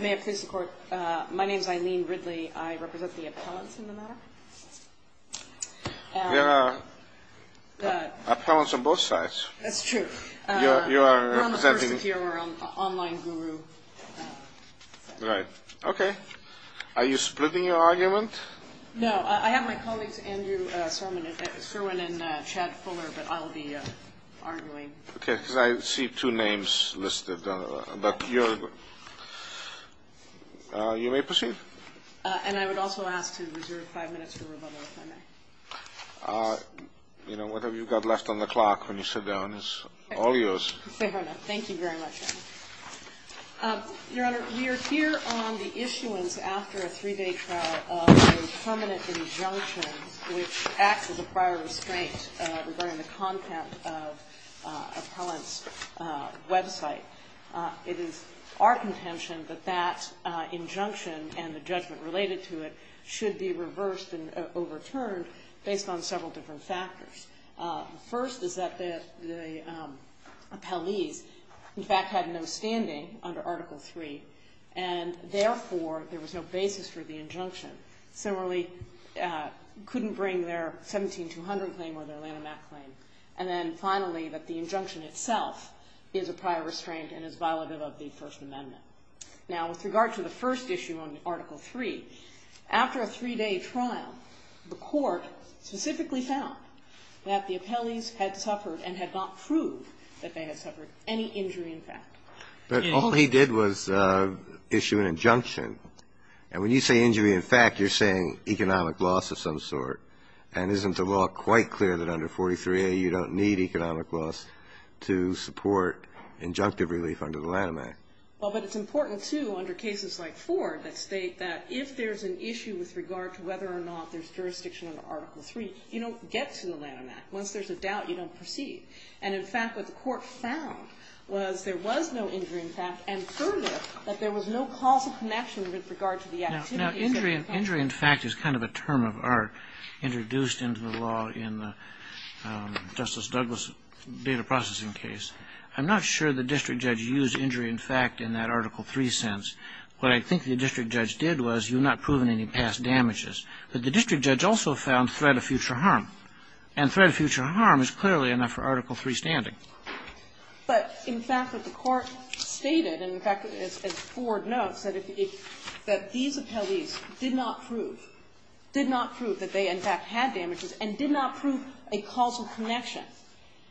May I please report? My name is Eileen Ridley. I represent the appellants in the matter. There are appellants on both sides. That's true. You are representing... We're on the first tier. We're on the online guru side. Right. Okay. Are you splitting your argument? No. I have my colleagues, Andrew Serwin and Chad Fuller, but I'll be arguing. Okay. Because I see two names listed. But you're... You may proceed. And I would also ask to reserve five minutes for rebuttal, if I may. You know, whatever you've got left on the clock when you sit down is all yours. Fair enough. Thank you very much, Your Honor. Your Honor, we are here on the issuance, after a three-day trial, of a permanent injunction, which acts as a prior restraint regarding the content of an appellant's website. It is our contention that that injunction and the judgment related to it should be reversed and overturned based on several different factors. The first is that the appellees, in fact, had no standing under Article III, similarly couldn't bring their 17-200 claim or their Lanham Act claim. And then finally, that the injunction itself is a prior restraint and is violative of the First Amendment. Now, with regard to the first issue on Article III, after a three-day trial, the Court specifically found that the appellees had suffered and had not proved that they had suffered any injury in fact. But all he did was issue an injunction. And when you say injury in fact, you're saying economic loss of some sort. And isn't the law quite clear that under 43A you don't need economic loss to support injunctive relief under the Lanham Act? Well, but it's important, too, under cases like Ford that state that if there's an issue with regard to whether or not there's jurisdiction under Article III, you don't get to the Lanham Act. Once there's a doubt, you don't proceed. And, in fact, what the Court found was there was no injury in fact, and further, that there was no causal connection with regard to the activities of the appellees. Now, injury in fact is kind of a term of art introduced into the law in Justice Douglas' data processing case. I'm not sure the district judge used injury in fact in that Article III sense. What I think the district judge did was you've not proven any past damages. But the district judge also found threat of future harm. And threat of future harm is clearly enough for Article III standing. But, in fact, what the Court stated, and in fact, as Ford notes, that these appellees did not prove, did not prove that they in fact had damages and did not prove a causal connection.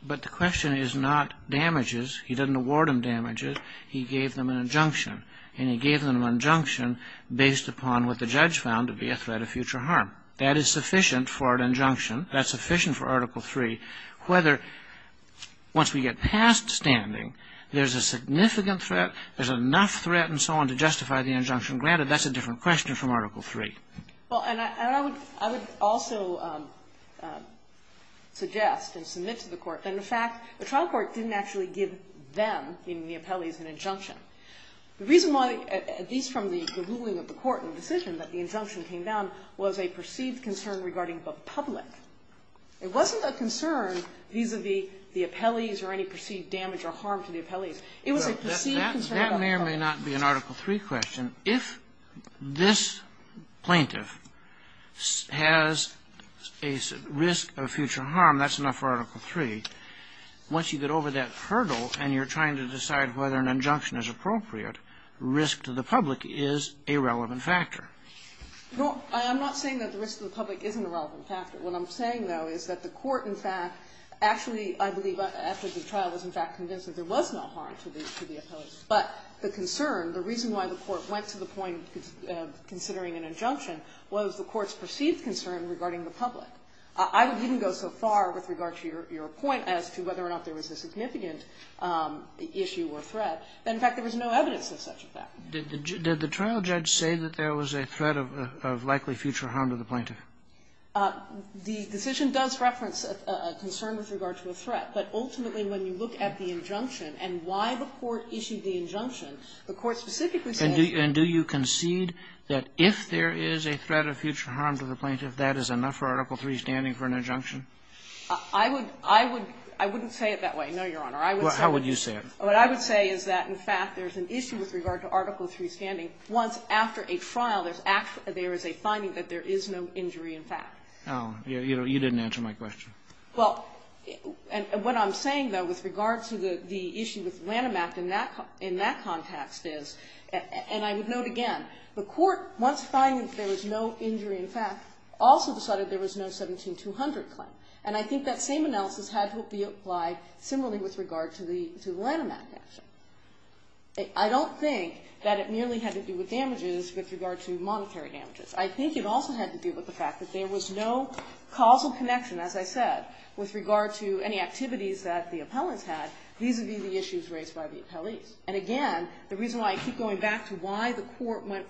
But the question is not damages. He didn't award them damages. He gave them an injunction. And he gave them an injunction based upon what the judge found to be a threat of future harm. That is sufficient for an injunction. That's sufficient for Article III. Whether once we get past standing, there's a significant threat, there's enough threat and so on to justify the injunction. Granted, that's a different question from Article III. Well, and I would also suggest and submit to the Court that, in fact, the trial court didn't actually give them, meaning the appellees, an injunction. The reason why, at least from the ruling of the Court in the decision that the injunction came down, was a perceived concern regarding the public. It wasn't a concern vis-a-vis the appellees or any perceived damage or harm to the appellees. It was a perceived concern about the public. That may or may not be an Article III question. If this plaintiff has a risk of future harm, that's enough for Article III. Once you get over that hurdle and you're trying to decide whether an injunction is appropriate, risk to the public is a relevant factor. No. I'm not saying that the risk to the public isn't a relevant factor. What I'm saying, though, is that the Court, in fact, actually, I believe after the trial, was in fact convinced that there was no harm to the appellees. But the concern, the reason why the Court went to the point considering an injunction was the Court's perceived concern regarding the public. I wouldn't go so far with regard to your point as to whether or not there was a significant issue or threat, that, in fact, there was no evidence of such a threat. Did the trial judge say that there was a threat of likely future harm to the plaintiff? The decision does reference a concern with regard to a threat. But ultimately, when you look at the injunction and why the Court issued the injunction, the Court specifically said that there was no harm to the plaintiff. And do you concede that if there is a threat of future harm to the plaintiff, that is enough for Article III standing for an injunction? I would – I wouldn't say it that way, no, Your Honor. How would you say it? What I would say is that, in fact, there is an issue with regard to Article III standing. Once after a trial, there is a finding that there is no injury in fact. Oh, you didn't answer my question. Well, what I'm saying, though, with regard to the issue with Lanham Act in that context is, and I would note again, the Court, once finding that there was no injury in fact, also decided there was no 17200 claim. And I think that same analysis had to be applied similarly with regard to the Lanham Act. I don't think that it merely had to do with damages with regard to monetary damages. I think it also had to do with the fact that there was no causal connection, as I said, with regard to any activities that the appellants had vis-à-vis the issues raised by the appellees. And again, the reason why I keep going back to why the Court went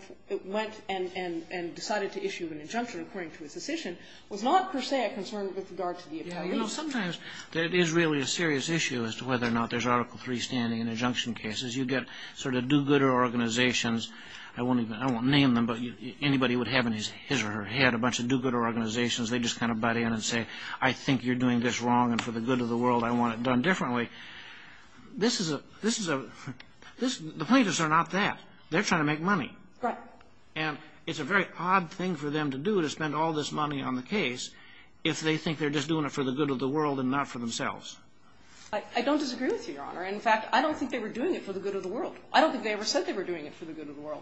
and decided to issue an injunction according to its decision was not per se a concern with regard to the appellees. You know, sometimes there is really a serious issue as to whether or not there's Article III standing in injunction cases. You get sort of do-gooder organizations. I won't name them, but anybody would have in his or her head a bunch of do-gooder organizations. They just kind of butt in and say, I think you're doing this wrong, and for the good of the world, I want it done differently. This is a the plaintiffs are not that. They're trying to make money. Right. And it's a very odd thing for them to do, to spend all this money on the case, if they think they're just doing it for the good of the world and not for themselves. I don't disagree with you, Your Honor. In fact, I don't think they were doing it for the good of the world. I don't think they ever said they were doing it for the good of the world.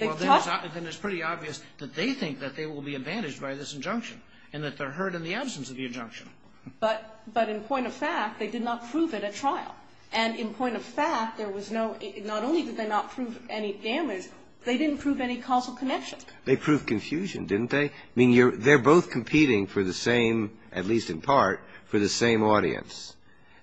Well, then it's pretty obvious that they think that they will be advantaged by this injunction and that they're hurt in the absence of the injunction. But in point of fact, they did not prove it at trial. And in point of fact, there was no – not only did they not prove any damage, they didn't prove any causal connection. They proved confusion, didn't they? I mean, they're both competing for the same, at least in part, for the same audience.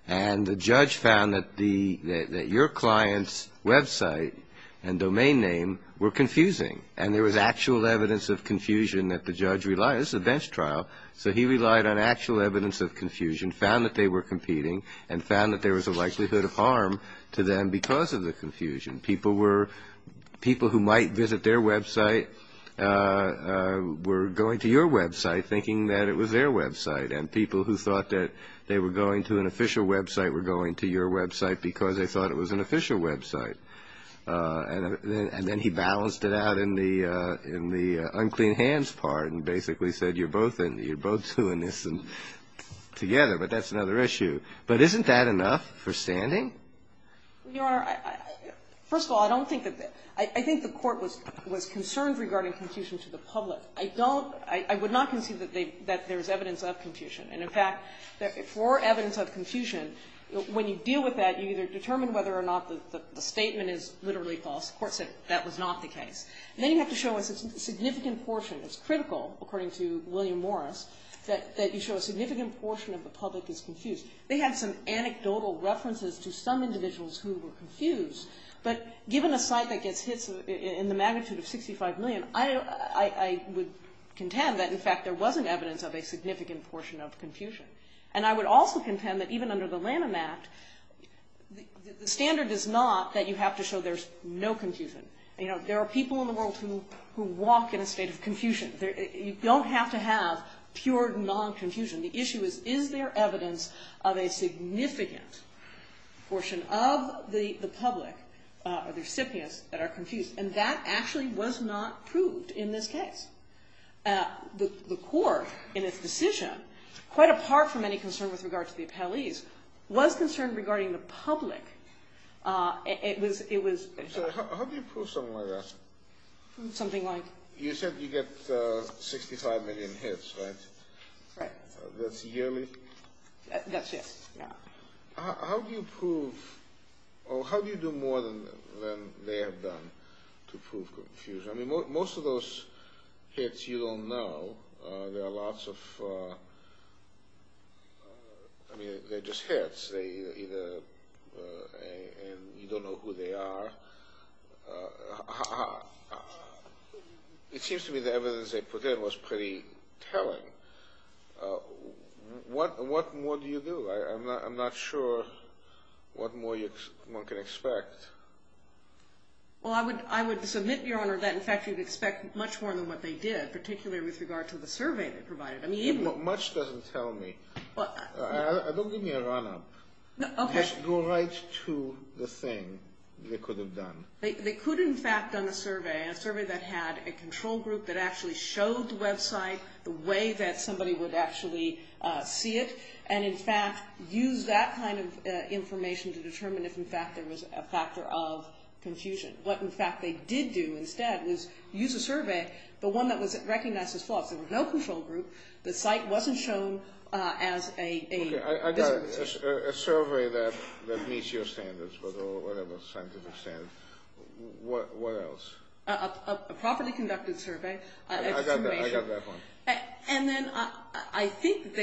And the judge found that the – that your client's website and domain name were confusing. And there was actual evidence of confusion that the judge relied – this is a bench trial. So he relied on actual evidence of confusion, found that they were competing, and found that there was a likelihood of harm to them because of the confusion. People were – people who might visit their website were going to your website thinking that it was their website. And people who thought that they were going to an official website were going to your website because they thought it was an official website. And then he balanced it out in the unclean hands part and basically said you're both doing this together, but that's another issue. But isn't that enough for standing? Your Honor, first of all, I don't think that – I think the court was concerned regarding confusion to the public. I don't – I would not concede that there's evidence of confusion. And, in fact, for evidence of confusion, when you deal with that, you either determine whether or not the statement is literally false. The court said that was not the case. And then you have to show a significant portion. It's critical, according to William Morris, that you show a significant portion of the public is confused. They had some anecdotal references to some individuals who were confused. But given a site that gets hits in the magnitude of 65 million, I would contend that, in fact, there wasn't evidence of a significant portion of confusion. And I would also contend that even under the Lanham Act, the standard is not that you have to show there's no confusion. You know, there are people in the world who walk in a state of confusion. You don't have to have pure non-confusion. The issue is, is there evidence of a significant portion of the public or the recipients that are confused? And that actually was not proved in this case. The court, in its decision, quite apart from any concern with regard to the appellees, was concerned regarding the public. It was – it was – How do you prove something like that? Something like? You said you get 65 million hits, right? Right. That's yearly? Yes, yes. How do you prove – or how do you do more than they have done to prove confusion? I mean, most of those hits you don't know. There are lots of – I mean, they're just hits. They either – and you don't know who they are. It seems to me the evidence they put in was pretty telling. What more do you do? I'm not sure what more one can expect. Well, I would submit, Your Honor, that, in fact, you'd expect much more than what they did, particularly with regard to the survey they provided. Much doesn't tell me. Don't give me a run-up. Okay. Just go right to the thing they could have done. They could, in fact, done a survey, a survey that had a control group that actually showed the website the way that somebody would actually see it and, in fact, use that kind of information to determine if, in fact, there was a factor of confusion. What, in fact, they did do instead was use a survey, but one that was recognized as false. There was no control group. The site wasn't shown as a – Okay. I got it. A survey that meets your standards or whatever, scientific standards. What else? A properly conducted survey. I got that one. And then I think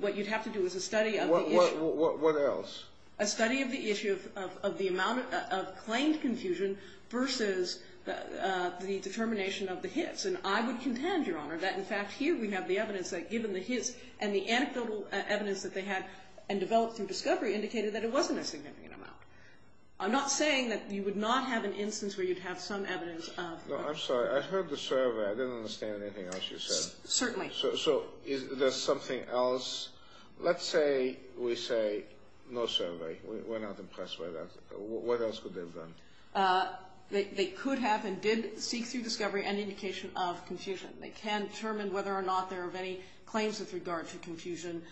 what you'd have to do is a study of the issue. What else? A study of the issue of the amount of claimed confusion versus the determination of the hits. And I would contend, Your Honor, that, in fact, here we have the evidence that, even the hits and the anecdotal evidence that they had and developed through discovery indicated that it wasn't a significant amount. I'm not saying that you would not have an instance where you'd have some evidence of – No, I'm sorry. I heard the survey. I didn't understand anything else you said. Certainly. So is there something else? Let's say we say no survey. We're not impressed by that. What else could they have done? They could have and did seek through discovery any indication of confusion. They can determine whether or not there are any claims with regard to confusion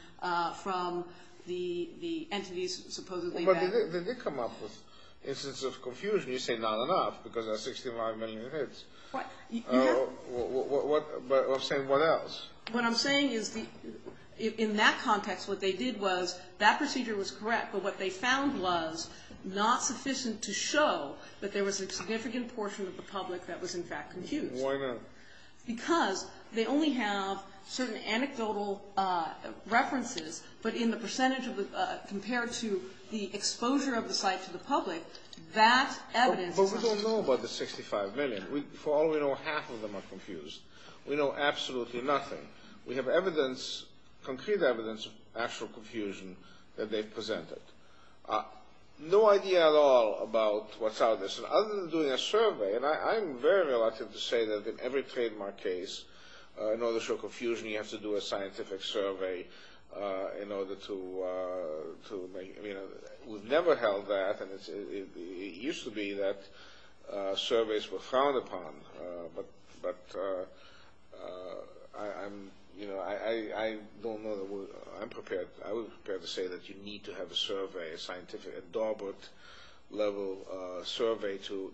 from the entities supposedly that – But they did come up with instances of confusion. You say not enough because there are 65 million hits. You have – But I'm saying what else? What I'm saying is in that context what they did was that procedure was correct, but what they found was not sufficient to show that there was a significant portion of the public that was, in fact, confused. Why not? Because they only have certain anecdotal references, but in the percentage compared to the exposure of the site to the public, that evidence is not sufficient. But we don't know about the 65 million. For all we know, half of them are confused. We know absolutely nothing. We have evidence, concrete evidence of actual confusion that they've presented. No idea at all about what's out there. Other than doing a survey – And I'm very reluctant to say that in every trademark case, in order to show confusion, you have to do a scientific survey in order to make – We've never held that. It used to be that surveys were frowned upon, but I'm – I don't know that we're – I would prefer to say that you need to have a survey, a scientific, a Dawbert-level survey to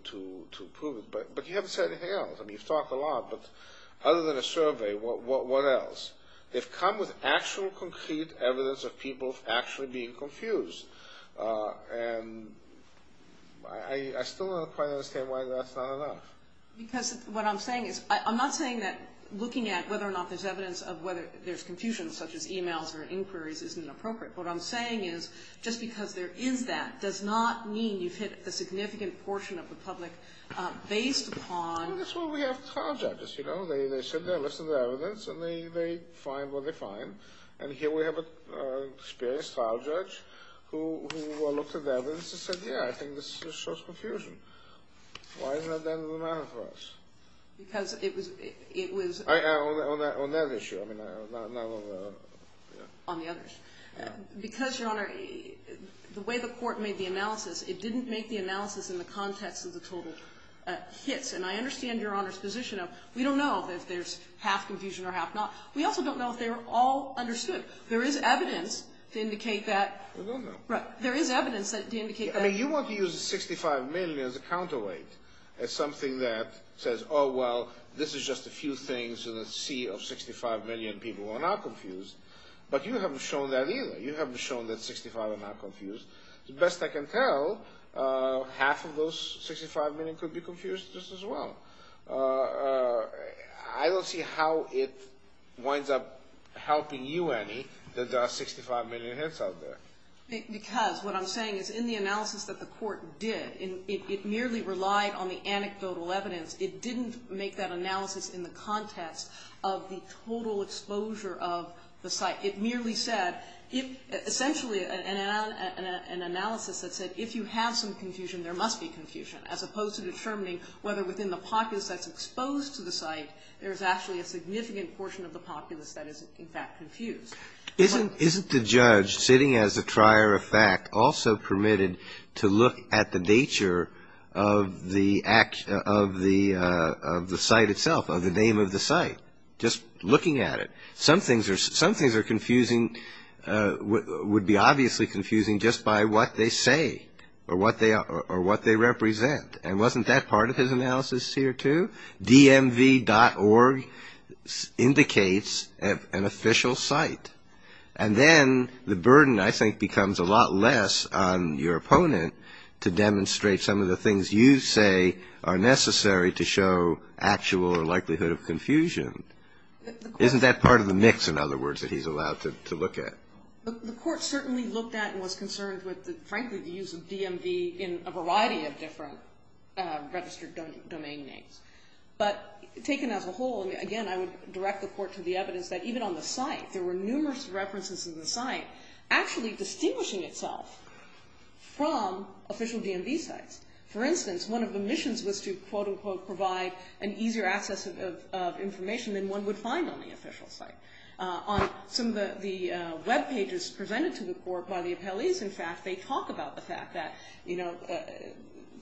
prove it, but you haven't said anything else. I mean, you've talked a lot, but other than a survey, what else? They've come with actual concrete evidence of people actually being confused, and I still don't quite understand why that's not enough. Because what I'm saying is I'm not saying that looking at whether or not there's evidence of whether there's confusion, such as e-mails or inquiries, isn't appropriate. What I'm saying is just because there is that does not mean you've hit a significant portion of the public based upon – That's why we have trial judges. You know, they sit there and listen to the evidence, and they find what they find. And here we have an experienced trial judge who looked at the evidence and said, yeah, I think this shows confusion. Why isn't that the end of the matter for us? Because it was – On that issue. On the others. Because, Your Honor, the way the court made the analysis, it didn't make the analysis in the context of the total hits. And I understand Your Honor's position of we don't know if there's half confusion or half not. We also don't know if they were all understood. There is evidence to indicate that – We don't know. There is evidence to indicate that – I mean, you want to use the $65 million as a counterweight, as something that says, oh, well, this is just a few things in a sea of 65 million people who are not confused. But you haven't shown that either. You haven't shown that 65 are not confused. The best I can tell, half of those 65 million could be confused just as well. I don't see how it winds up helping you, Annie, that there are 65 million hits out there. Because what I'm saying is in the analysis that the court did, it merely relied on the anecdotal evidence. It didn't make that analysis in the context of the total exposure of the site. It merely said, essentially an analysis that said if you have some confusion, there must be confusion, as opposed to determining whether within the populace that's exposed to the site there's actually a significant portion of the populace that is, in fact, confused. Isn't the judge, sitting as a trier of fact, also permitted to look at the nature of the site itself, of the name of the site, just looking at it? Some things are confusing – would be obviously confusing just by what they say or what they represent. And wasn't that part of his analysis here, too? DMV.org indicates an official site. And then the burden, I think, becomes a lot less on your opponent to demonstrate some of the things you say are necessary to show actual likelihood of confusion. Isn't that part of the mix, in other words, that he's allowed to look at? The court certainly looked at and was concerned with, frankly, the use of DMV in a variety of different registered domain names. But taken as a whole, again, I would direct the court to the evidence that even on the site, there were numerous references in the site actually distinguishing itself from official DMV sites. For instance, one of the missions was to, quote, unquote, provide an easier access of information than one would find on the official site. On some of the webpages presented to the court by the appellees, in fact, they talk about the fact that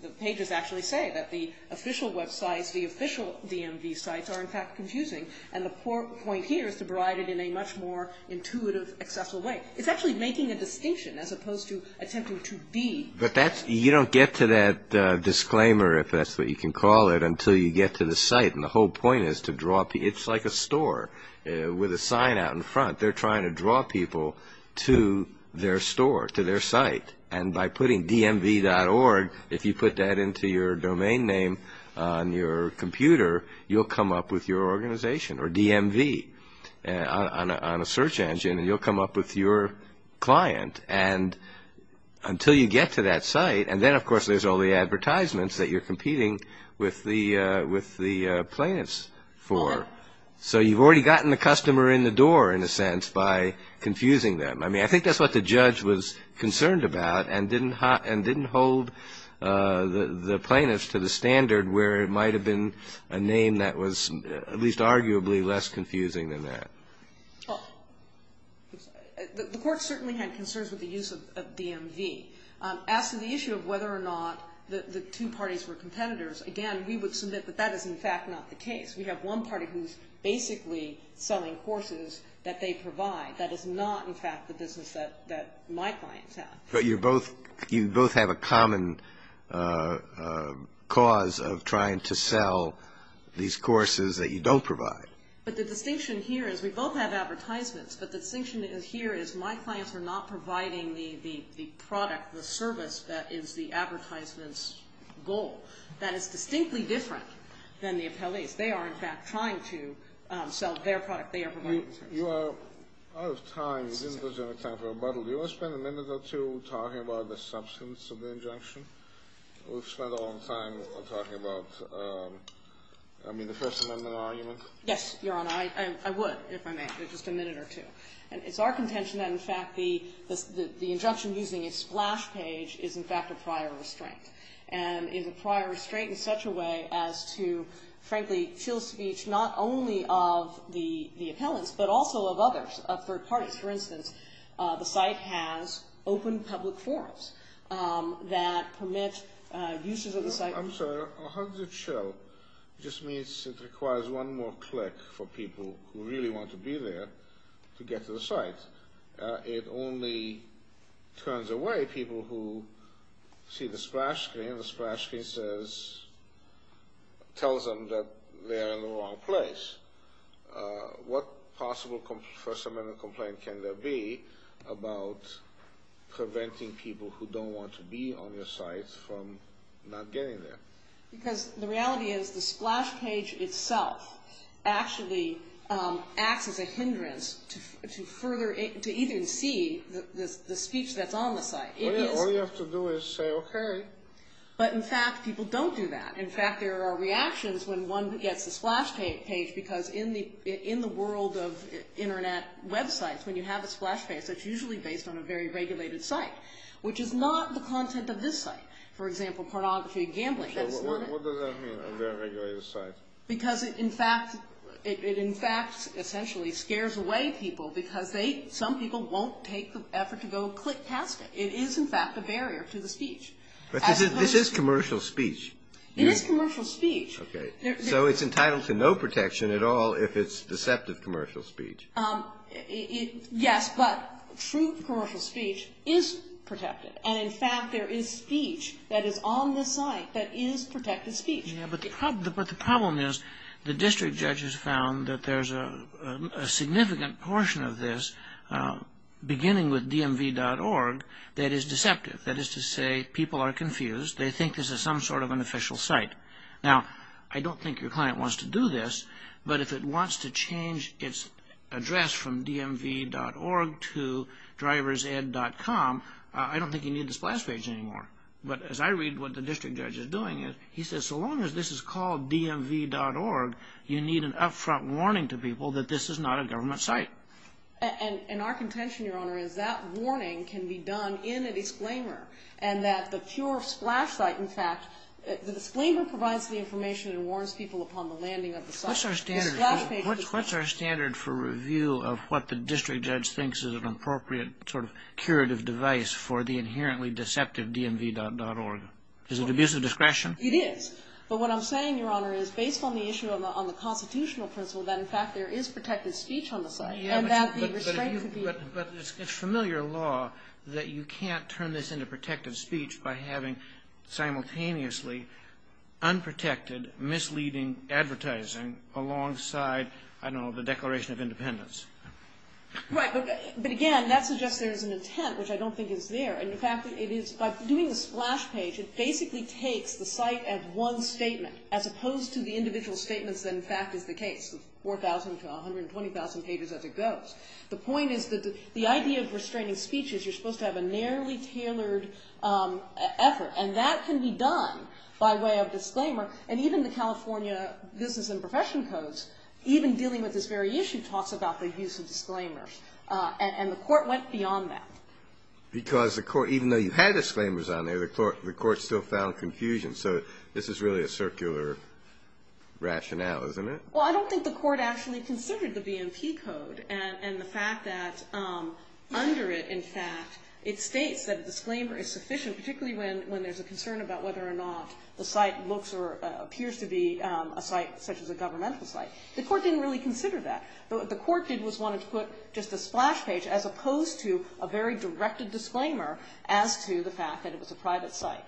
the pages actually say that the official websites, the official DMV sites are, in fact, confusing. And the point here is to provide it in a much more intuitive, accessible way. It's actually making a distinction as opposed to attempting to be. But you don't get to that disclaimer, if that's what you can call it, until you get to the site. And the whole point is to draw people. It's like a store with a sign out in front. They're trying to draw people to their store, to their site. And by putting DMV.org, if you put that into your domain name on your computer, you'll come up with your organization or DMV on a search engine, and you'll come up with your client. There's all the advertisements that you're competing with the plaintiffs for. So you've already gotten the customer in the door, in a sense, by confusing them. I mean, I think that's what the judge was concerned about and didn't hold the plaintiffs to the standard where it might have been a name that was at least arguably less confusing than that. Well, the court certainly had concerns with the use of DMV. As to the issue of whether or not the two parties were competitors, again, we would submit that that is, in fact, not the case. We have one party who's basically selling courses that they provide. That is not, in fact, the business that my clients have. But you both have a common cause of trying to sell these courses that you don't provide. But the distinction here is we both have advertisements, but the distinction here is my clients are not providing the product, the service, that is the advertisement's goal. That is distinctly different than the appellees. They are, in fact, trying to sell their product. You are out of time. You didn't lose any time for rebuttal. Do you want to spend a minute or two talking about the substance of the injunction? We've spent a long time talking about, I mean, the First Amendment argument. Yes, Your Honor. I would, if I may, just a minute or two. It's our contention that, in fact, the injunction using a splash page is, in fact, a prior restraint, and is a prior restraint in such a way as to, frankly, feel speech not only of the appellants but also of others, of third parties. For instance, the site has open public forums that permit uses of the site. I'm sorry. How does it show? It just means it requires one more click for people who really want to be there to get to the site. It only turns away people who see the splash screen. The splash screen tells them that they're in the wrong place. What possible First Amendment complaint can there be about preventing people who don't want to be on your site from not getting there? Because the reality is the splash page itself actually acts as a hindrance to even see the speech that's on the site. All you have to do is say, okay. But, in fact, people don't do that. In fact, there are reactions when one gets the splash page because in the world of Internet websites, when you have a splash page, it's usually based on a very regulated site, which is not the content of this site. For example, pornography and gambling. What does that mean, a very regulated site? Because it, in fact, essentially scares away people because some people won't take the effort to go click past it. It is, in fact, a barrier to the speech. But this is commercial speech. It is commercial speech. Okay. So it's entitled to no protection at all if it's deceptive commercial speech. Yes, but true commercial speech is protected. And, in fact, there is speech that is on the site that is protected speech. But the problem is the district judges found that there's a significant portion of this, beginning with dmv.org, that is deceptive. That is to say people are confused. They think this is some sort of an official site. Now, I don't think your client wants to do this, but if it wants to change its address from dmv.org to driversed.com, I don't think you need the splash page anymore. But as I read what the district judge is doing, he says so long as this is called dmv.org, you need an upfront warning to people that this is not a government site. And our contention, Your Honor, is that warning can be done in an exclaimer and that the pure splash site, in fact, the disclaimer provides the information and warns people upon the landing of the site. What's our standard for review of what the district judge thinks is an appropriate sort of curative device for the inherently deceptive dmv.org? Is it abusive discretion? It is. But what I'm saying, Your Honor, is based on the issue on the constitutional principle that, in fact, there is protected speech on the site. And that the restraint could be used. But it's familiar law that you can't turn this into protected speech by having simultaneously unprotected misleading advertising alongside, I don't know, the Declaration of Independence. Right. But again, that suggests there is an intent, which I don't think is there. In fact, by doing the splash page, it basically takes the site as one statement, as opposed to the individual statements that, in fact, is the case, 4,000 to 120,000 pages as it goes. The point is that the idea of restraining speech is you're supposed to have a narrowly tailored effort. And that can be done by way of disclaimer. And even the California Business and Profession Codes, even dealing with this very issue, talks about the use of disclaimers. And the Court went beyond that. Because the Court, even though you had disclaimers on there, the Court still found confusion. So this is really a circular rationale, isn't it? Well, I don't think the Court actually considered the BMP Code and the fact that under it, in fact, it states that a disclaimer is sufficient, particularly when there's a concern about whether or not the site looks or appears to be a site such as a governmental site. The Court didn't really consider that. What the Court did was wanted to put just a splash page, as opposed to a very directed disclaimer as to the fact that it was a private site.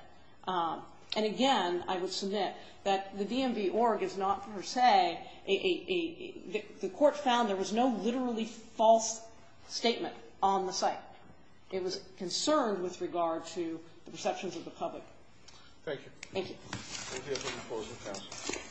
And, again, I would submit that the DMV Org is not per se a – the Court found there was no literally false statement on the site. It was concerned with regard to the perceptions of the public. Thank you. Thank you. Thank you.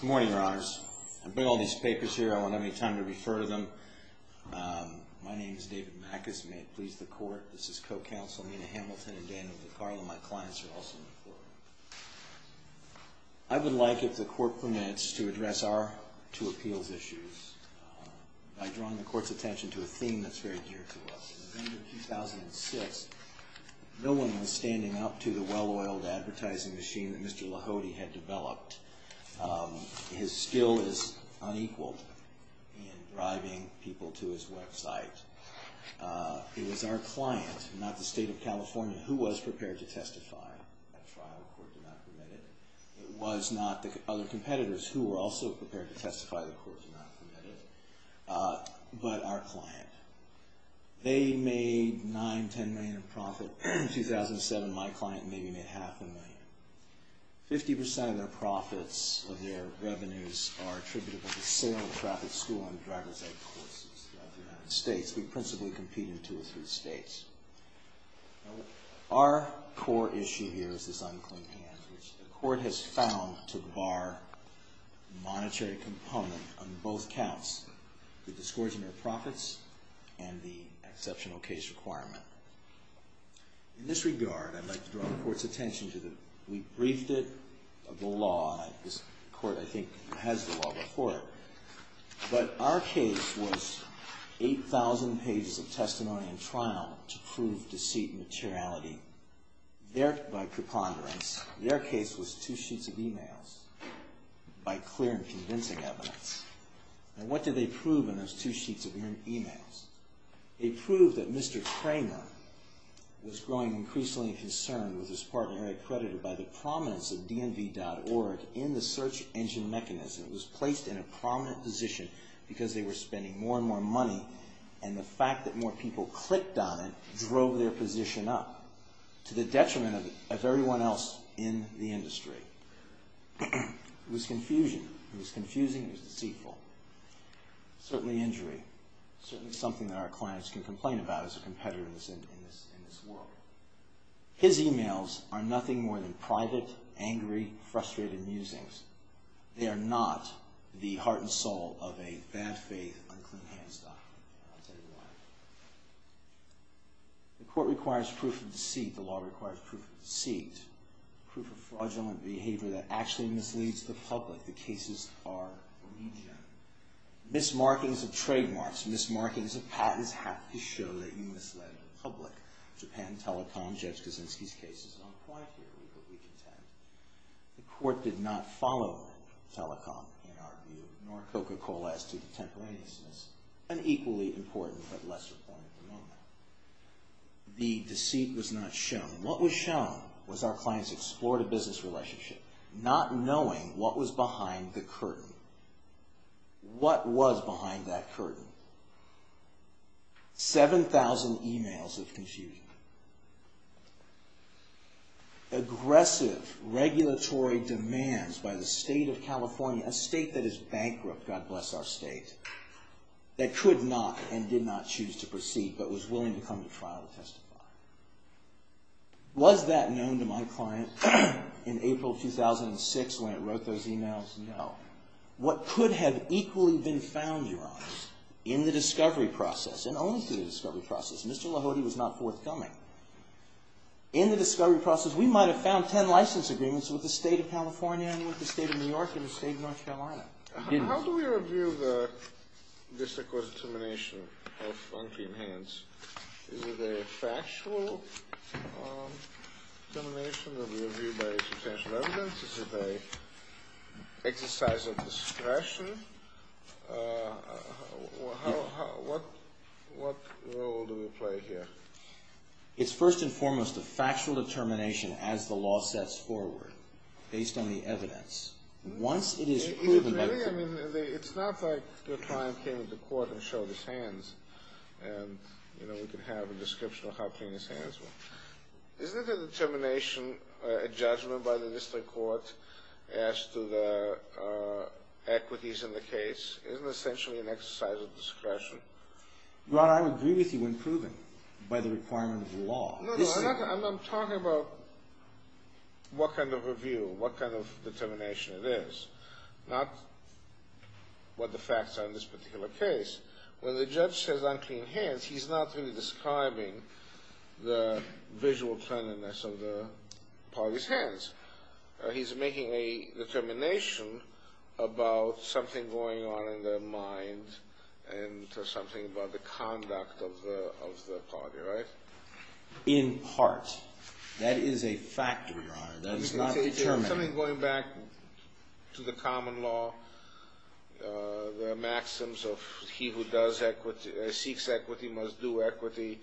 Good morning, Your Honors. I brought all these papers here. I won't have any time to refer to them. My name is David Mackus. May it please the Court, this is Co-Counsel Nina Hamilton and Dan McFarland. My clients are also on the floor. I would like, if the Court permits, to address our two appeals issues by drawing the Court's attention to a theme that's very dear to us. In November 2006, no one was standing up to the well-oiled advertising machine that Mr. Lahode had developed. His skill is unequaled in driving people to his website. It was our client, not the State of California, who was prepared to testify. That trial, the Court did not permit it. It was not the other competitors who were also prepared to testify. The Court did not permit it. But our client. They made $9 million, $10 million in profit. In 2007, my client maybe made half a million. Fifty percent of their profits or their revenues are attributed to the sale and traffic school and driver's ed courses in the United States. We principally compete in two or three states. Our core issue here is this unclean hand, which the Court has found to bar monetary component on both counts, the discords in their profits and the exceptional case requirement. In this regard, I'd like to draw the Court's attention to the, We briefed it of the law. This Court, I think, has the law before it. But our case was 8,000 pages of testimony in trial to prove deceit and materiality. By preponderance, their case was two sheets of emails by clear and convincing evidence. And what did they prove in those two sheets of emails? They proved that Mr. Kramer was growing increasingly concerned with his partner accredited by the prominence of dnv.org in the search engine mechanism. It was placed in a prominent position because they were spending more and more money and the fact that more people clicked on it drove their position up to the detriment of everyone else in the industry. It was confusion. It was confusing. It was deceitful. Certainly injury. Certainly something that our clients can complain about as a competitor in this world. His emails are nothing more than private, angry, frustrated musings. They are not the heart and soul of a bad-faith, unclean hamster. I'll tell you why. The Court requires proof of deceit. The law requires proof of deceit. Proof of fraudulent behavior that actually misleads the public. The cases are remedial. Mismarkings of trademarks, mismarkings of patents have to show that you misled the public. Japan Telecom, Judge Kaczynski's case is not quite here, but we contend. The Court did not follow Telecom, in our view, nor Coca-Cola as to the temporariness. An equally important but lesser point at the moment. The deceit was not shown. What was shown was our clients explored a business relationship, not knowing what was behind the curtain. What was behind that curtain? 7,000 emails of confusion. Aggressive, regulatory demands by the state of California, a state that is bankrupt, God bless our state, that could not and did not choose to proceed but was willing to come to trial to testify. Was that known to my client in April 2006 when it wrote those emails? No. What could have equally been found, Your Honor, in the discovery process, and only through the discovery process, Mr. Lahode was not forthcoming. In the discovery process, we might have found ten license agreements with the state of California and with the state of New York and the state of North Carolina. How do we review the district court's determination of unclean hands? Is it a factual determination that we review by substantial evidence? Is it an exercise of discretion? What role do we play here? It's first and foremost a factual determination as the law sets forward, based on the evidence. Once it is proven by proof. Really? I mean, it's not like your client came to court and showed his hands and, you know, we could have a description of how clean his hands were. Isn't the determination a judgment by the district court as to the equities in the case? Isn't it essentially an exercise of discretion? Your Honor, I would agree with you in proving by the requirement of the law. No, no, I'm talking about what kind of review, what kind of determination it is, not what the facts are in this particular case. When the judge says unclean hands, he's not really describing the visual cleanliness of the party's hands. He's making a determination about something going on in their mind and something about the conduct of the party, right? In part. That is a fact, Your Honor. That is not determined. Something going back to the common law, the maxims of he who does equity, seeks equity, must do equity,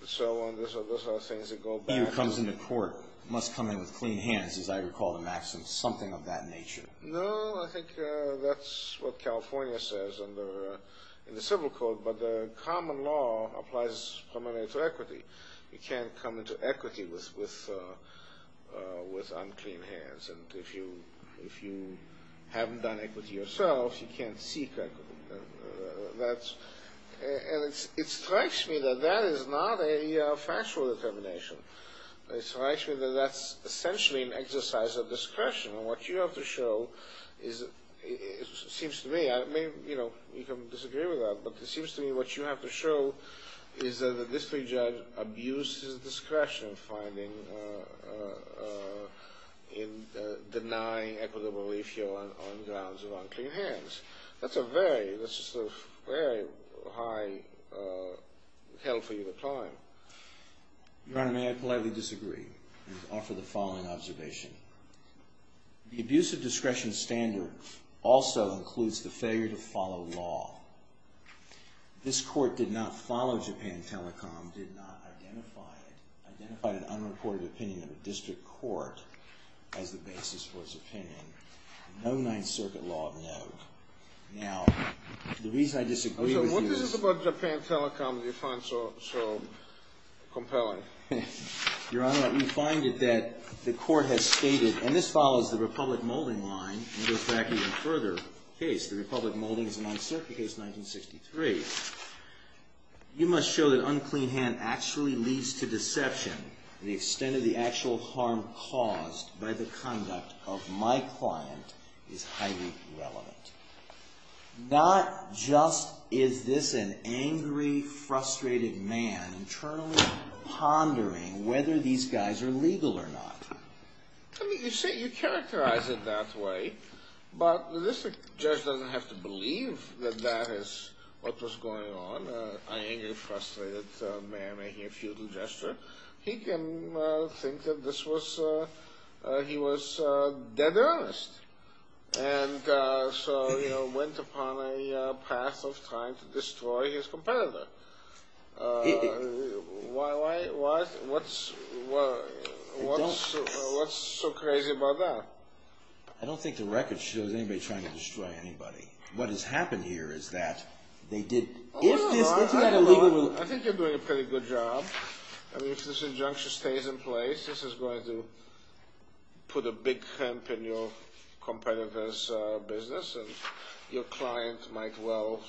and so on, those are things that go back to... He who comes into court must come in with clean hands, as I recall the maxim, something of that nature. No, I think that's what California says in the civil code, but the common law applies primarily to equity. You can't come into equity with unclean hands, and if you haven't done equity yourself, you can't seek equity. And it strikes me that that is not a factual determination. It strikes me that that's essentially an exercise of discretion, and what you have to show is, it seems to me, you can disagree with that, but it seems to me what you have to show is that the district judge abuses discretion finding in denying equitable ratio on grounds of unclean hands. That's a very, very high hell for you to climb. Your Honor, may I politely disagree and offer the following observation? The abuse of discretion standard also includes the failure to follow law. This court did not follow Japan Telecom, did not identify it, identified an unreported opinion of a district court as the basis for its opinion. No Ninth Circuit law of note. Now, the reason I disagree with you is... What is it about Japan Telecom that you find so compelling? Your Honor, we find it that the court has stated, and this follows the Republic Molding line and goes back even further, the Republic Molding is a Ninth Circuit case, 1963. You must show that unclean hand actually leads to deception. The extent of the actual harm caused by the conduct of my client is highly irrelevant. Not just is this an angry, frustrated man internally pondering whether these guys are legal or not. I mean, you say you characterize it that way, but the district judge doesn't have to believe that that is what was going on, an angry, frustrated man making a futile gesture. He can think that this was, he was dead earnest. And so, you know, went upon a path of trying to destroy his competitor. Why, what, what's so crazy about that? I don't think the record shows anybody trying to destroy anybody. What has happened here is that they did... I think you're doing a pretty good job. I mean, if this injunction stays in place, this is going to put a big hemp in your competitor's business, and your client might well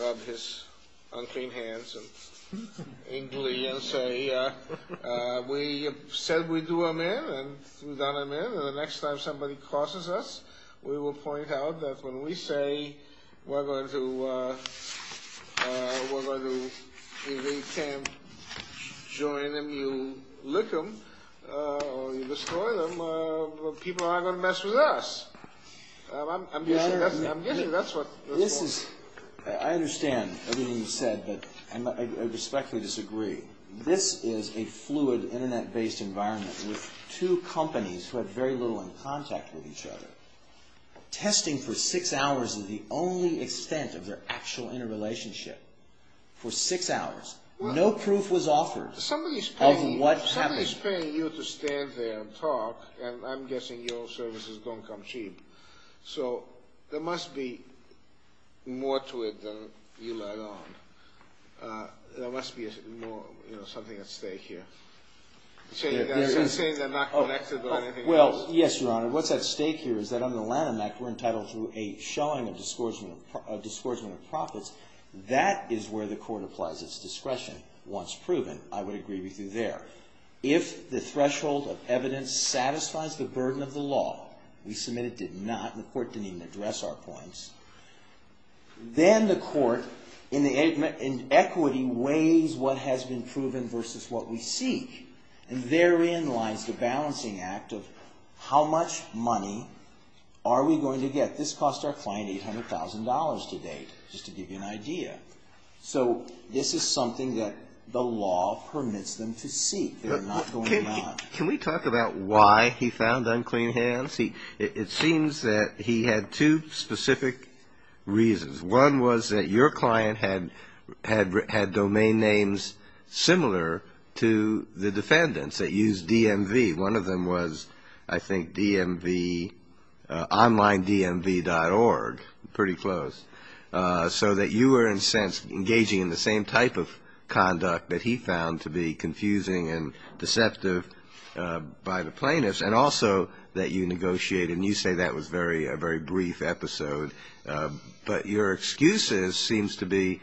rub his unclean hands and inkly and say, we said we do amen, and we've done amen, and the next time somebody crosses us, we will point out that when we say we're going to invade camp, you join them, you lick them, or you destroy them, people are going to mess with us. I'm guessing that's what... This is, I understand everything you said, but I respectfully disagree. This is a fluid, Internet-based environment with two companies who have very little in contact with each other. Testing for six hours is the only extent of their actual interrelationship. For six hours. No proof was offered of what happened. Somebody's paying you to stand there and talk, and I'm guessing your services don't come cheap. So there must be more to it than you let on. There must be more, you know, something at stake here. So you're saying they're not connected by anything else? Well, yes, Your Honor. What's at stake here is that under the Lanham Act, we're entitled to a showing of discordsmen of profits. That is where the court applies its discretion. Once proven, I would agree with you there. If the threshold of evidence satisfies the burden of the law, we submit it did not, and the court didn't even address our points, then the court, in equity, weighs what has been proven versus what we seek. And therein lies the balancing act of how much money are we going to get? This cost our client $800,000 to date, just to give you an idea. So this is something that the law permits them to seek. They're not going to lie. Can we talk about why he found unclean hands? It seems that he had two specific reasons. One was that your client had domain names similar to the defendants that used DMV. One of them was, I think, DMV, onlinedmv.org, pretty close, so that you were, in a sense, engaging in the same type of conduct that he found to be confusing and deceptive by the plaintiffs, and also that you negotiated, and you say that was a very brief episode. But your excuse seems to be,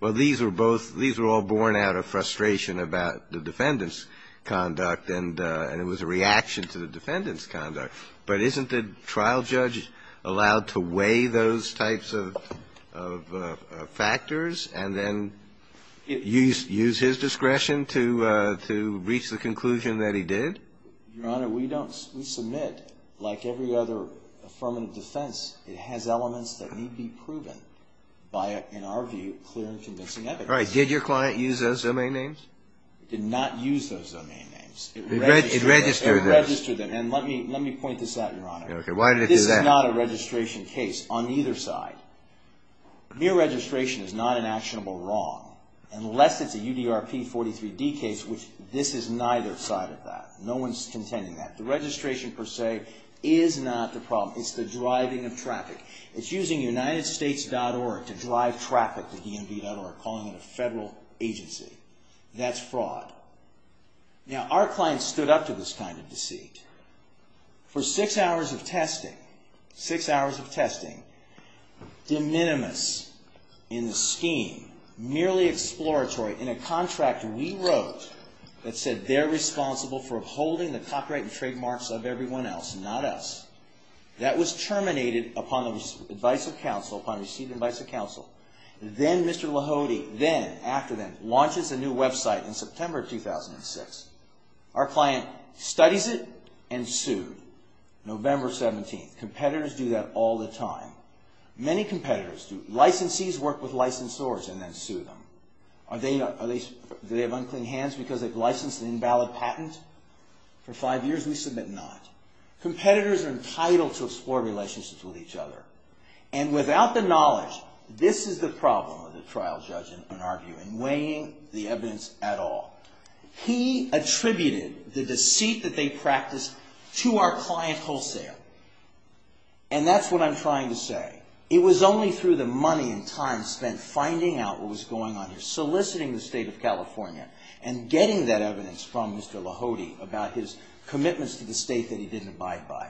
well, these were both – these were all born out of frustration about the defendant's conduct, and it was a reaction to the defendant's conduct. But isn't the trial judge allowed to weigh those types of factors and then use his discretion to reach the conclusion that he did? Your Honor, we don't – we submit, like every other affirmative defense, it has elements that need to be proven by, in our view, clear and convincing evidence. Right. Did your client use those domain names? He did not use those domain names. It registered them. It registered them, and let me point this out, Your Honor. Okay. Why did it do that? This is not a registration case on either side. Mere registration is not an actionable wrong, unless it's a UDRP 43D case, which this is neither side of that. No one's contending that. The registration, per se, is not the problem. It's the driving of traffic. It's using UnitedStates.org to drive traffic to DMV.org, calling it a federal agency. That's fraud. Now, our client stood up to this kind of deceit. For six hours of testing, six hours of testing, de minimis in the scheme, merely exploratory, in a contract we wrote that said they're responsible for holding the copyright and trademarks of everyone else, not us. That was terminated upon the advice of counsel, upon received advice of counsel. Then Mr. Lahode, then, after then, launches a new website in September 2006. Our client studies it and sued. November 17th. Competitors do that all the time. Many competitors do. Licensees work with licensors and then sue them. Do they have unclean hands because they've licensed an invalid patent? For five years, we submit not. Competitors are entitled to explore relationships with each other. And without the knowledge, this is the problem of the trial judge, in our view, in weighing the evidence at all. He attributed the deceit that they practiced to our client wholesale. And that's what I'm trying to say. It was only through the money and time spent finding out what was going on here, soliciting the state of California, and getting that evidence from Mr. Lahode about his commitments to the state that he didn't abide by.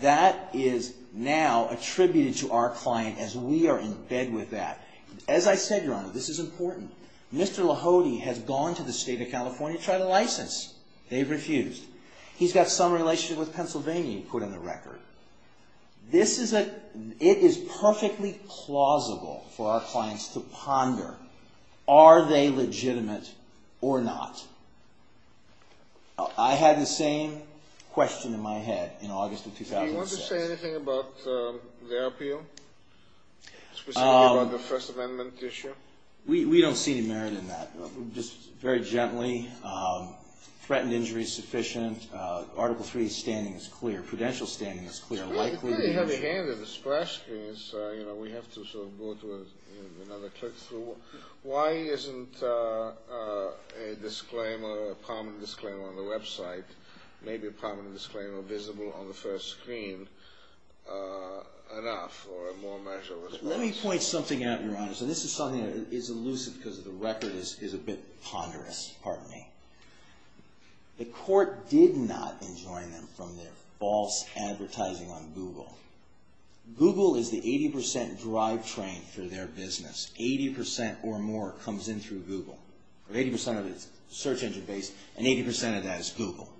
That is now attributed to our client as we are in bed with that. As I said, Your Honor, this is important. Mr. Lahode has gone to the state of California to try to license. They've refused. He's got some relationship with Pennsylvania he put on the record. This is a – it is perfectly plausible for our clients to ponder, are they legitimate or not? I had the same question in my head in August of 2006. Do you want to say anything about the appeal, specifically about the First Amendment issue? We don't see any merit in that, just very gently. Threatened injury is sufficient. Article III's standing is clear. Prudential's standing is clear. It's really heavy-handed. The splash screen is, you know, we have to sort of go to another click-through. Why isn't a disclaimer, a prominent disclaimer on the website, maybe a prominent disclaimer visible on the first screen enough or a more measured response? Let me point something out, Your Honor. So this is something that is elusive because the record is a bit ponderous, pardon me. The court did not enjoin them from their false advertising on Google. Google is the 80 percent drivetrain for their business. Eighty percent or more comes in through Google. Eighty percent of it is search engine-based, and 80 percent of that is Google.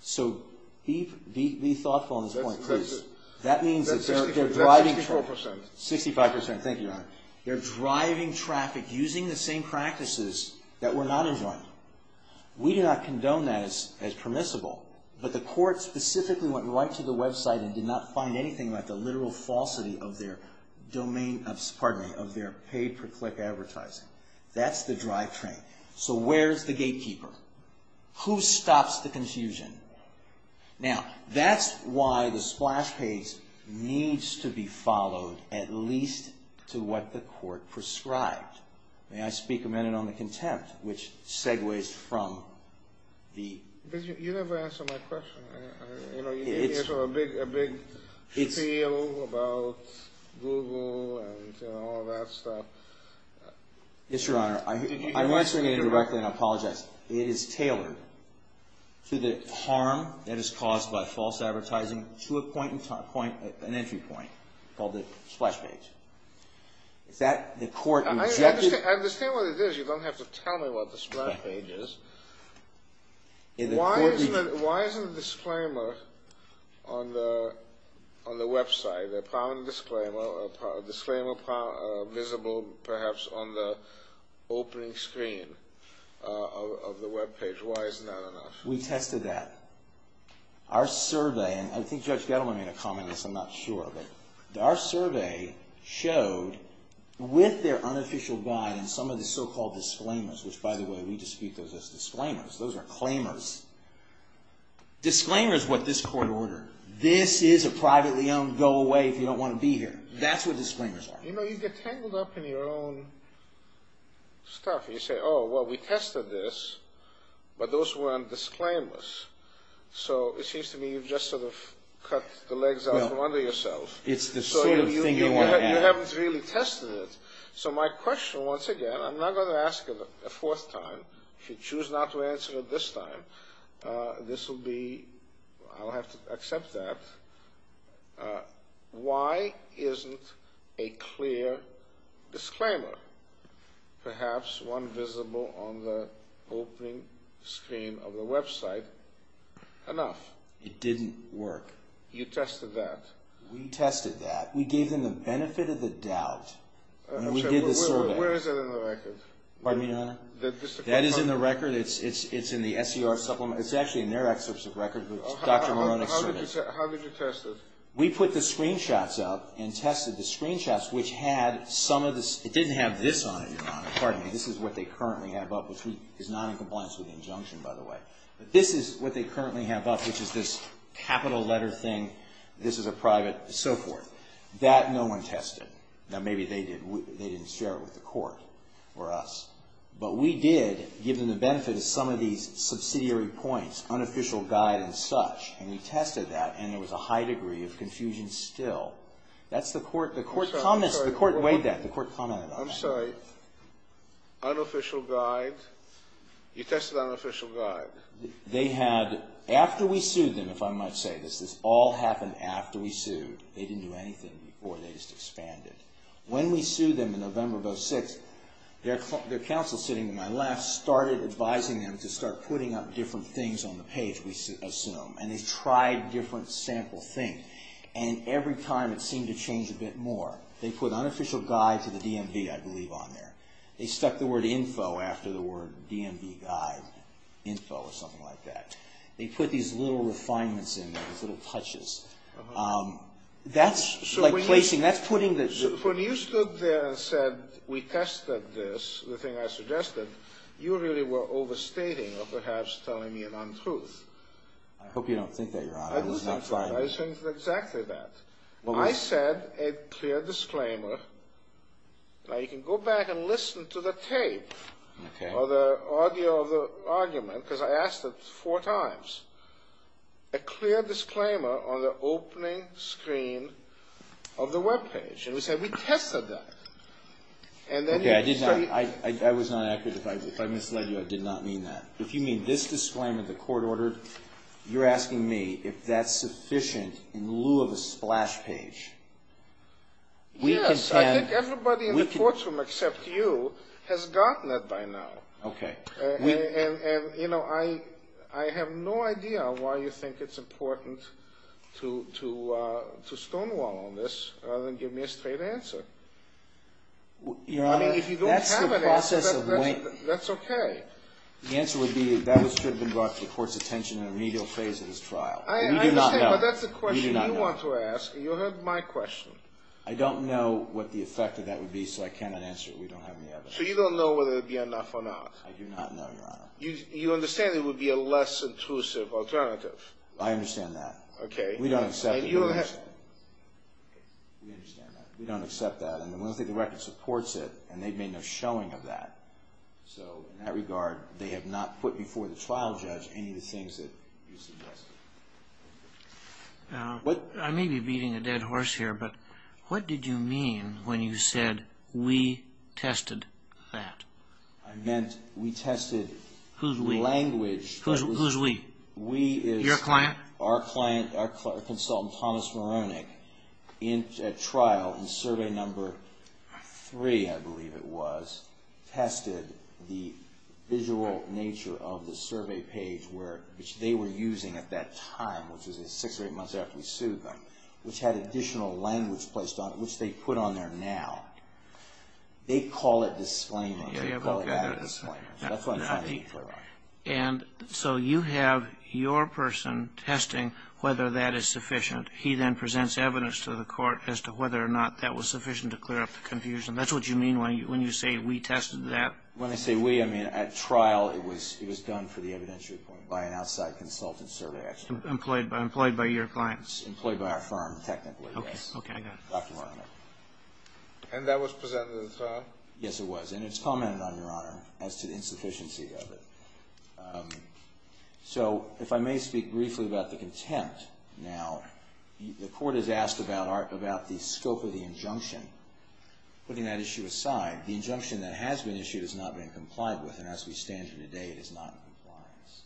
So be thoughtful on this point. That means that they're driving traffic. Sixty-five percent, thank you, Your Honor. They're driving traffic using the same practices that were not enjoined. We do not condone that as permissible, but the court specifically went right to the website and did not find anything about the literal falsity of their paid-per-click advertising. That's the drivetrain. So where's the gatekeeper? Who stops the confusion? Now, that's why the splash page needs to be followed at least to what the court prescribed. May I speak a minute on the contempt, which segues from the— You never answered my question. You didn't answer a big appeal about Google and all that stuff. Yes, Your Honor. I'm answering it indirectly, and I apologize. It is tailored to the harm that is caused by false advertising to an entry point called the splash page. Is that the court— I understand what it is. You don't have to tell me what the splash page is. Why isn't a disclaimer on the website, a disclaimer visible perhaps on the opening screen of the webpage, why isn't that enough? We tested that. Our survey, and I think Judge Gettleman made a comment on this, I'm not sure, but our survey showed with their unofficial guide and some of the so-called disclaimers, which, by the way, we dispute those as disclaimers. Those are claimers. Disclaimer is what this court ordered. This is a privately owned go away if you don't want to be here. That's what disclaimers are. You know, you get tangled up in your own stuff. You say, oh, well, we tested this, but those weren't disclaimers. So it seems to me you've just sort of cut the legs out from under yourself. It's the sort of thing you want to have. You haven't really tested it. So my question, once again, I'm not going to ask it a fourth time. If you choose not to answer it this time, this will be, I'll have to accept that. Why isn't a clear disclaimer, perhaps one visible on the opening screen of the website, enough? It didn't work. You tested that. We tested that. We gave them the benefit of the doubt. Where is it in the record? Pardon me, Your Honor? That is in the record. It's in the SCR supplement. It's actually in their excerpts of record. How did you test it? We put the screenshots up and tested the screenshots, which had some of this. It didn't have this on it, Your Honor. Pardon me. This is what they currently have up, which is not in compliance with the injunction, by the way. But this is what they currently have up, which is this capital letter thing. This is a private, so forth. That no one tested. Now, maybe they didn't share it with the court or us. But we did give them the benefit of some of these subsidiary points, unofficial guide and such. And we tested that, and there was a high degree of confusion still. That's the court's comment. The court weighed that. The court commented on that. I'm sorry. Unofficial guide. You tested unofficial guide. They had, after we sued them, if I might say this, this all happened after we sued. They didn't do anything before. They just expanded. When we sued them in November of 2006, their counsel sitting to my left started advising them to start putting up different things on the page, we assume. And they tried different sample things. And every time it seemed to change a bit more. They put unofficial guide to the DMV, I believe, on there. They stuck the word info after the word DMV guide. Info or something like that. They put these little refinements in there, these little touches. That's like placing. That's putting the. So when you stood there and said we tested this, the thing I suggested, you really were overstating or perhaps telling me an untruth. I hope you don't think that, Your Honor. I do think that. I think exactly that. I said a clear disclaimer. Now, you can go back and listen to the tape or the audio of the argument. Because I asked it four times. A clear disclaimer on the opening screen of the webpage. And we said we tested that. Okay. I did not. I was not accurate. If I misled you, I did not mean that. If you mean this disclaimer, the court ordered, you're asking me if that's sufficient in lieu of a splash page. Yes. I think everybody in the courtroom except you has gotten that by now. Okay. And, you know, I have no idea why you think it's important to stonewall on this rather than give me a straight answer. Your Honor, that's the process of waiting. That's okay. The answer would be that should have been brought to the court's attention in the remedial phase of this trial. I understand, but that's the question you want to ask. You heard my question. I don't know what the effect of that would be, so I cannot answer it. We don't have any evidence. So you don't know whether it would be enough or not. I do not know, Your Honor. You understand it would be a less intrusive alternative. I understand that. Okay. We don't accept it. We understand that. We don't accept that, and we don't think the record supports it, and they've made no showing of that. So in that regard, they have not put before the trial judge any of the things that you suggested. I may be beating a dead horse here, but what did you mean when you said, we tested that? I meant we tested language. Who's we? Who's we? We is. Your client. Our client, our consultant, Thomas Moronic, at trial in Survey No. 3, I believe it was, tested the visual nature of the survey page, which they were using at that time, which was six or eight months after we sued them, which had additional language placed on it, which they put on there now. They call it disclaimer. They call it added disclaimer. That's what I'm trying to get clear on. And so you have your person testing whether that is sufficient. He then presents evidence to the court as to whether or not that was sufficient to clear up the confusion. That's what you mean when you say, we tested that? When I say we, I mean at trial it was done for the evidentiary point by an outside consultant survey action. Employed by your clients. Employed by our firm, technically, yes. Okay. Dr. Moronic. And that was presented at trial? Yes, it was. And it's commented on, Your Honor, as to the insufficiency of it. So if I may speak briefly about the contempt now. The court has asked about the scope of the injunction. Putting that issue aside, the injunction that has been issued has not been complied with. And as we stand here today, it is not in compliance.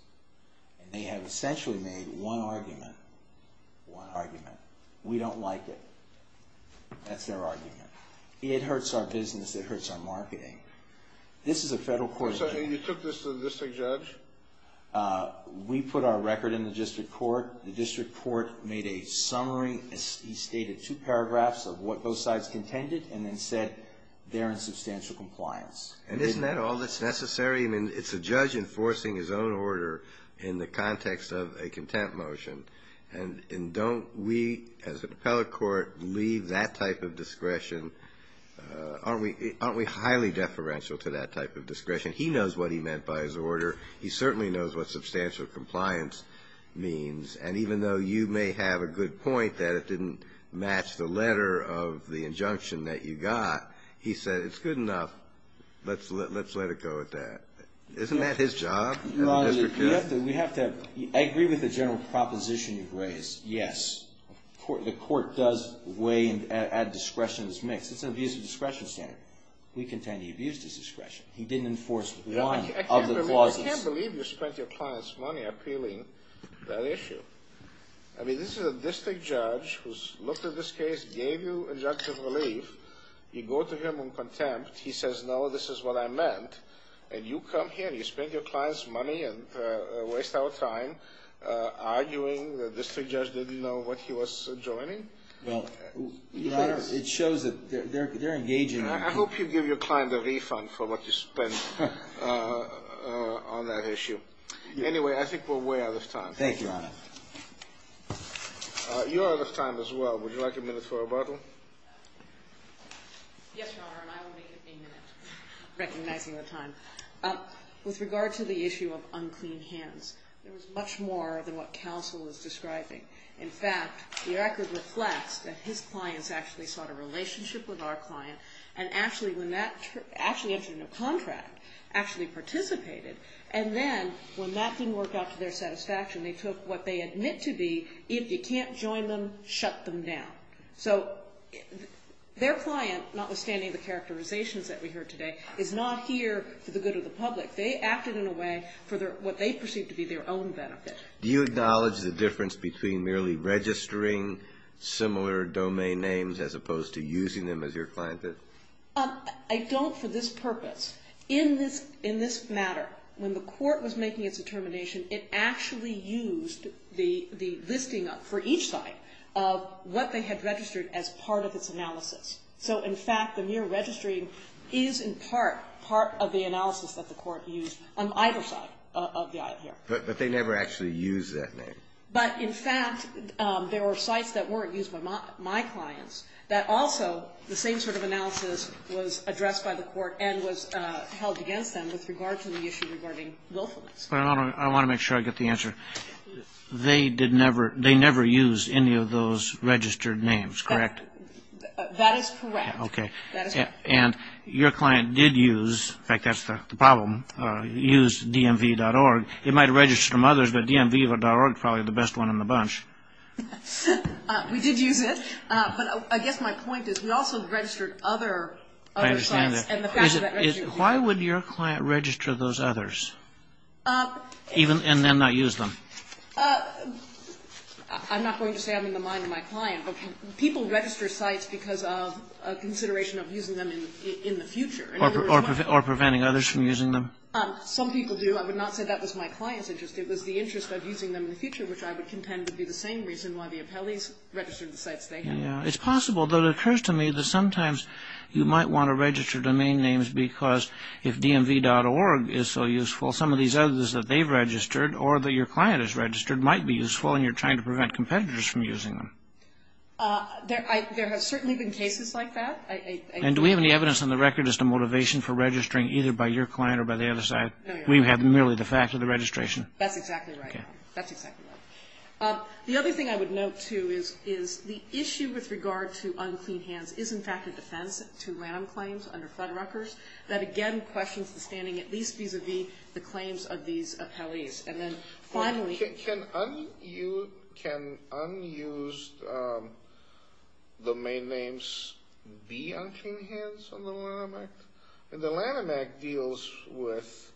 And they have essentially made one argument, one argument, we don't like it. That's their argument. It hurts our business. It hurts our marketing. This is a federal court. You took this to the district judge? We put our record in the district court. The district court made a summary. He stated two paragraphs of what both sides contended and then said they're in substantial compliance. And isn't that all that's necessary? I mean, it's a judge enforcing his own order in the context of a contempt motion. And don't we, as an appellate court, leave that type of discretion? Aren't we highly deferential to that type of discretion? He knows what he meant by his order. He certainly knows what substantial compliance means. And even though you may have a good point that it didn't match the letter of the injunction that you got, he said it's good enough, let's let it go at that. Isn't that his job in the district court? We have to agree with the general proposition you've raised, yes. The court does weigh and add discretion to this mix. It's an abuse of discretion standard. We contend he abused his discretion. He didn't enforce one of the clauses. I can't believe you spent your client's money appealing that issue. I mean, this is a district judge who's looked at this case, gave you injunctive relief. You go to him in contempt. He says, no, this is what I meant. And you come here and you spend your client's money and waste our time arguing that the district judge didn't know what he was joining? Well, it shows that they're engaging. I hope you give your client a refund for what you spent on that issue. Anyway, I think we're way out of time. Thank you, Your Honor. You're out of time as well. Would you like a minute for rebuttal? Yes, Your Honor, and I will make it a minute, recognizing the time. With regard to the issue of unclean hands, there was much more than what counsel is describing. In fact, the record reflects that his clients actually sought a relationship with our client, and actually when that actually entered into a contract, actually participated. And then when that didn't work out to their satisfaction, they took what they admit to be, if you can't join them, shut them down. So their client, notwithstanding the characterizations that we heard today, is not here for the good of the public. They acted in a way for what they perceive to be their own benefit. Do you acknowledge the difference between merely registering similar domain names as opposed to using them as your client did? I don't for this purpose. In this matter, when the court was making its determination, it actually used the listing for each site of what they had registered as part of its analysis. So, in fact, the mere registering is, in part, part of the analysis that the court used on either side of the aisle here. But they never actually used that name. But, in fact, there were sites that weren't used by my clients that also, the same sort of analysis was addressed by the court and was held against them with regard to the issue regarding willfulness. I want to make sure I get the answer. They never used any of those registered names, correct? That is correct. Okay. And your client did use, in fact, that's the problem, used dmv.org. It might have registered from others, but dmv.org is probably the best one in the bunch. We did use it. But I guess my point is we also registered other sites. I understand that. Why would your client register those others and then not use them? I'm not going to say I'm in the mind of my client. People register sites because of a consideration of using them in the future. Or preventing others from using them? Some people do. I would not say that was my client's interest. It was the interest of using them in the future, which I would contend would be the same reason why the appellees registered the sites they have. It's possible, though it occurs to me that sometimes you might want to register domain names because if dmv.org is so useful, some of these others that they've registered or that your client has registered might be useful and you're trying to prevent competitors from using them. There have certainly been cases like that. And do we have any evidence on the record as to motivation for registering either by your client or by the other side? No, Your Honor. We have merely the fact of the registration. That's exactly right. Okay. That's exactly right. The other thing I would note, too, is the issue with regard to unclean hands is, in fact, a defense to Lanham claims under Flood Ruckers. That, again, questions the standing at least vis-à-vis the claims of these appellees. And then, finally – Can unused domain names be unclean hands on the Lanham Act? The Lanham Act deals with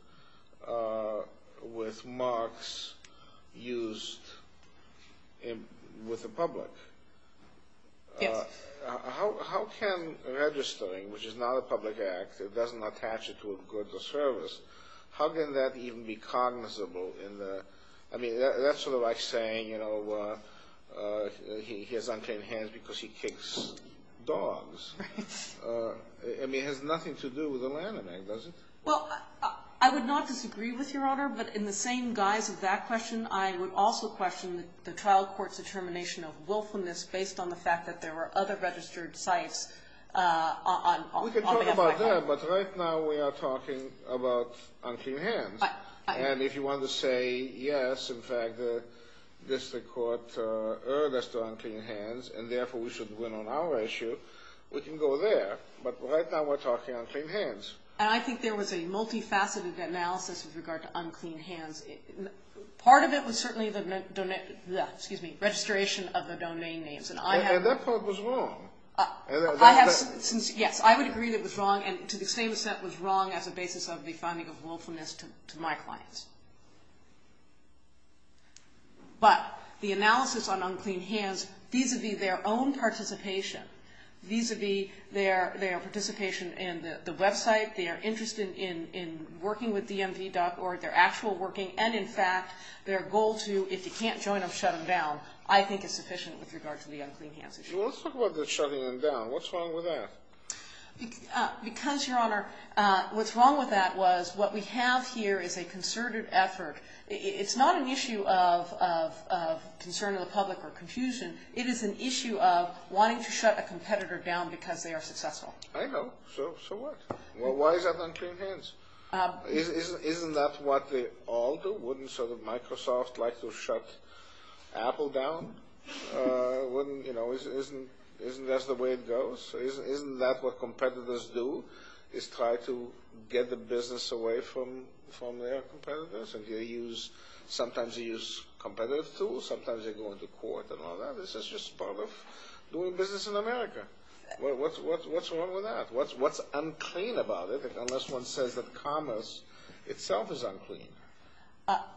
marks used with the public. Yes. How can registering, which is not a public act, it doesn't attach it to a good or service, how can that even be cognizable in the – I mean, that's sort of like saying, you know, he has unclean hands because he kicks dogs. Right. I mean, it has nothing to do with the Lanham Act, does it? Well, I would not disagree with Your Honor, but in the same guise of that question, I would also question the trial court's determination of willfulness based on the fact that there were other registered sites on the Lanham Act. We can talk about that, but right now we are talking about unclean hands. And if you want to say, yes, in fact, this court earned us the unclean hands and therefore we should win on our issue, we can go there. But right now we're talking unclean hands. And I think there was a multifaceted analysis with regard to unclean hands. Part of it was certainly the – excuse me – registration of the domain names. And that part was wrong. Yes, I would agree that it was wrong, and to the same extent was wrong as a basis of the finding of willfulness to my clients. But the analysis on unclean hands vis-à-vis their own participation, vis-à-vis their participation in the website, their interest in working with DMV.org, their actual working, and in fact their goal to, if you can't join them, shut them down, I think is sufficient with regard to the unclean hands issue. Well, let's talk about the shutting them down. What's wrong with that? Because, Your Honor, what's wrong with that was what we have here is a concerted effort. It's not an issue of concern of the public or confusion. It is an issue of wanting to shut a competitor down because they are successful. I know. So what? Why is that unclean hands? Isn't that what they all do? Wouldn't sort of Microsoft like to shut Apple down? Wouldn't – you know, isn't that the way it goes? Isn't that what competitors do is try to get the business away from their competitors? And they use – sometimes they use competitive tools. Sometimes they go into court and all that. This is just part of doing business in America. What's wrong with that? What's unclean about it unless one says that commerce itself is unclean?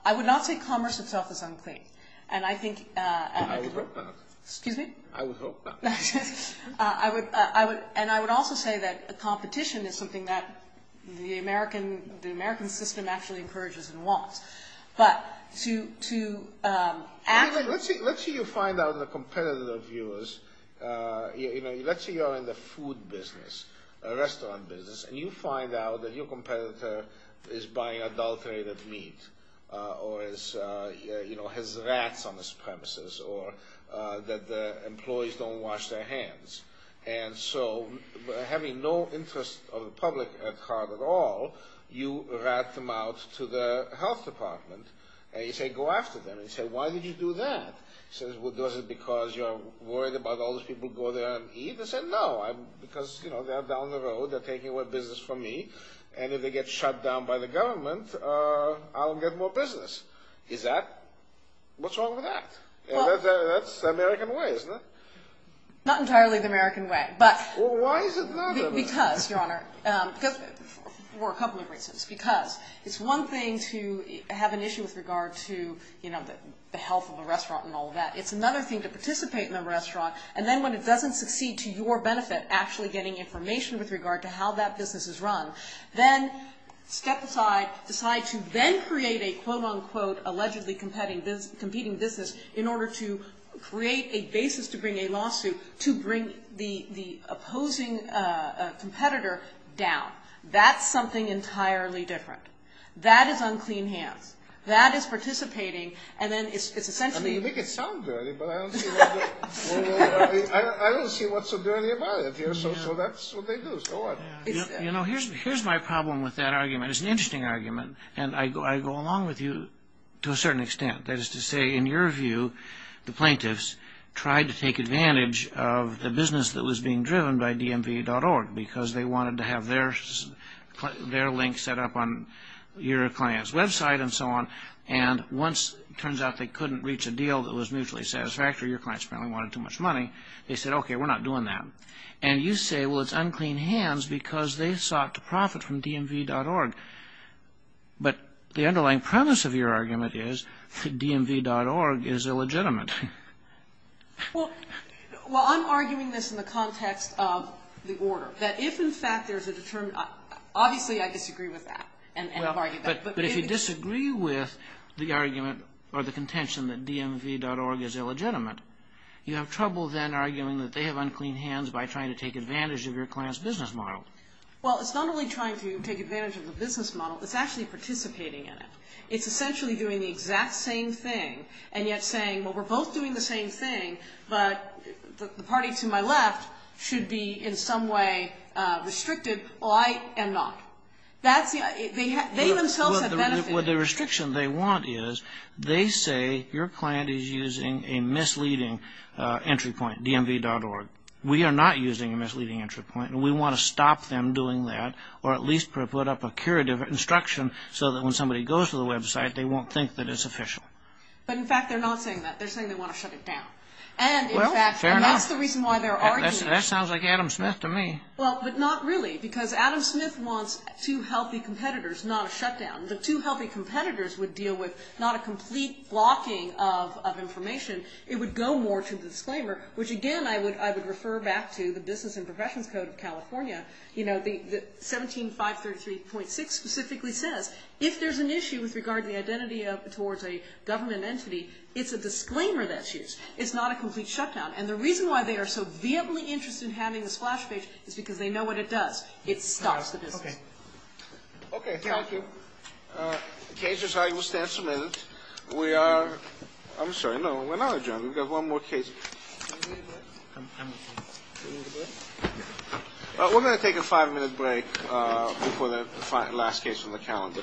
I would not say commerce itself is unclean. And I think – I would hope not. Excuse me? I would hope not. I would – and I would also say that competition is something that the American system actually encourages and wants. But to actually – Let's say you find out that a competitor of yours – let's say you're in the food business, a restaurant business, and you find out that your competitor is buying adulterated meat or has rats on his premises or that the employees don't wash their hands. And so having no interest of the public at heart at all, you rat them out to the health department. And you say, go after them. And you say, why did you do that? He says, well, is it because you're worried about all those people who go there and eat? They say, no, because, you know, they're down the road. They're taking away business from me. And if they get shut down by the government, I'll get more business. Is that – what's wrong with that? That's the American way, isn't it? Not entirely the American way, but – Well, why is it not the American way? Because, Your Honor, for a couple of reasons. Because it's one thing to have an issue with regard to, you know, the health of a restaurant and all of that. It's another thing to participate in a restaurant. And then when it doesn't succeed to your benefit actually getting information with regard to how that business is run, then step aside, decide to then create a, quote, unquote, allegedly competing business in order to create a basis to bring a lawsuit to bring the opposing competitor down. That's something entirely different. That is unclean hands. That is participating. And then it's essentially – I mean, you make it sound dirty, but I don't see what's so dirty about it here. So that's what they do. So what? You know, here's my problem with that argument. It's an interesting argument, and I go along with you to a certain extent. That is to say, in your view, the plaintiffs tried to take advantage of the business that was being driven by DMV.org because they wanted to have their link set up on your client's website and so on. And once it turns out they couldn't reach a deal that was mutually satisfactory, your clients apparently wanted too much money, they said, okay, we're not doing that. And you say, well, it's unclean hands because they sought to profit from DMV.org. But the underlying premise of your argument is that DMV.org is illegitimate. Well, I'm arguing this in the context of the order. That if, in fact, there's a – obviously, I disagree with that. But if you disagree with the argument or the contention that DMV.org is illegitimate, you have trouble then arguing that they have unclean hands by trying to take advantage of your client's business model. Well, it's not only trying to take advantage of the business model. It's actually participating in it. It's essentially doing the exact same thing and yet saying, well, we're both doing the same thing, but the party to my left should be in some way restricted. Well, I am not. That's the – they themselves have benefited. Well, the restriction they want is they say your client is using a misleading entry point, DMV.org. We are not using a misleading entry point, and we want to stop them doing that or at least put up a curative instruction so that when somebody goes to the website, they won't think that it's official. But, in fact, they're not saying that. They're saying they want to shut it down. Well, fair enough. And, in fact, that's the reason why they're arguing. That sounds like Adam Smith to me. Well, but not really because Adam Smith wants two healthy competitors, not a shutdown. The two healthy competitors would deal with not a complete blocking of information. It would go more to the disclaimer, which, again, I would refer back to the Business and Professions Code of California. You know, the – 17.533.6 specifically says if there's an issue with regard to the identity towards a government entity, it's a disclaimer that's used. It's not a complete shutdown. And the reason why they are so vehemently interested in having the splash page is because they know what it does. It stops the business. Okay. Okay. Thank you. Cases, I will stand for a minute. We are – I'm sorry. No, we're not adjourned. We've got one more case. We're going to take a five-minute break before the last case on the calendar.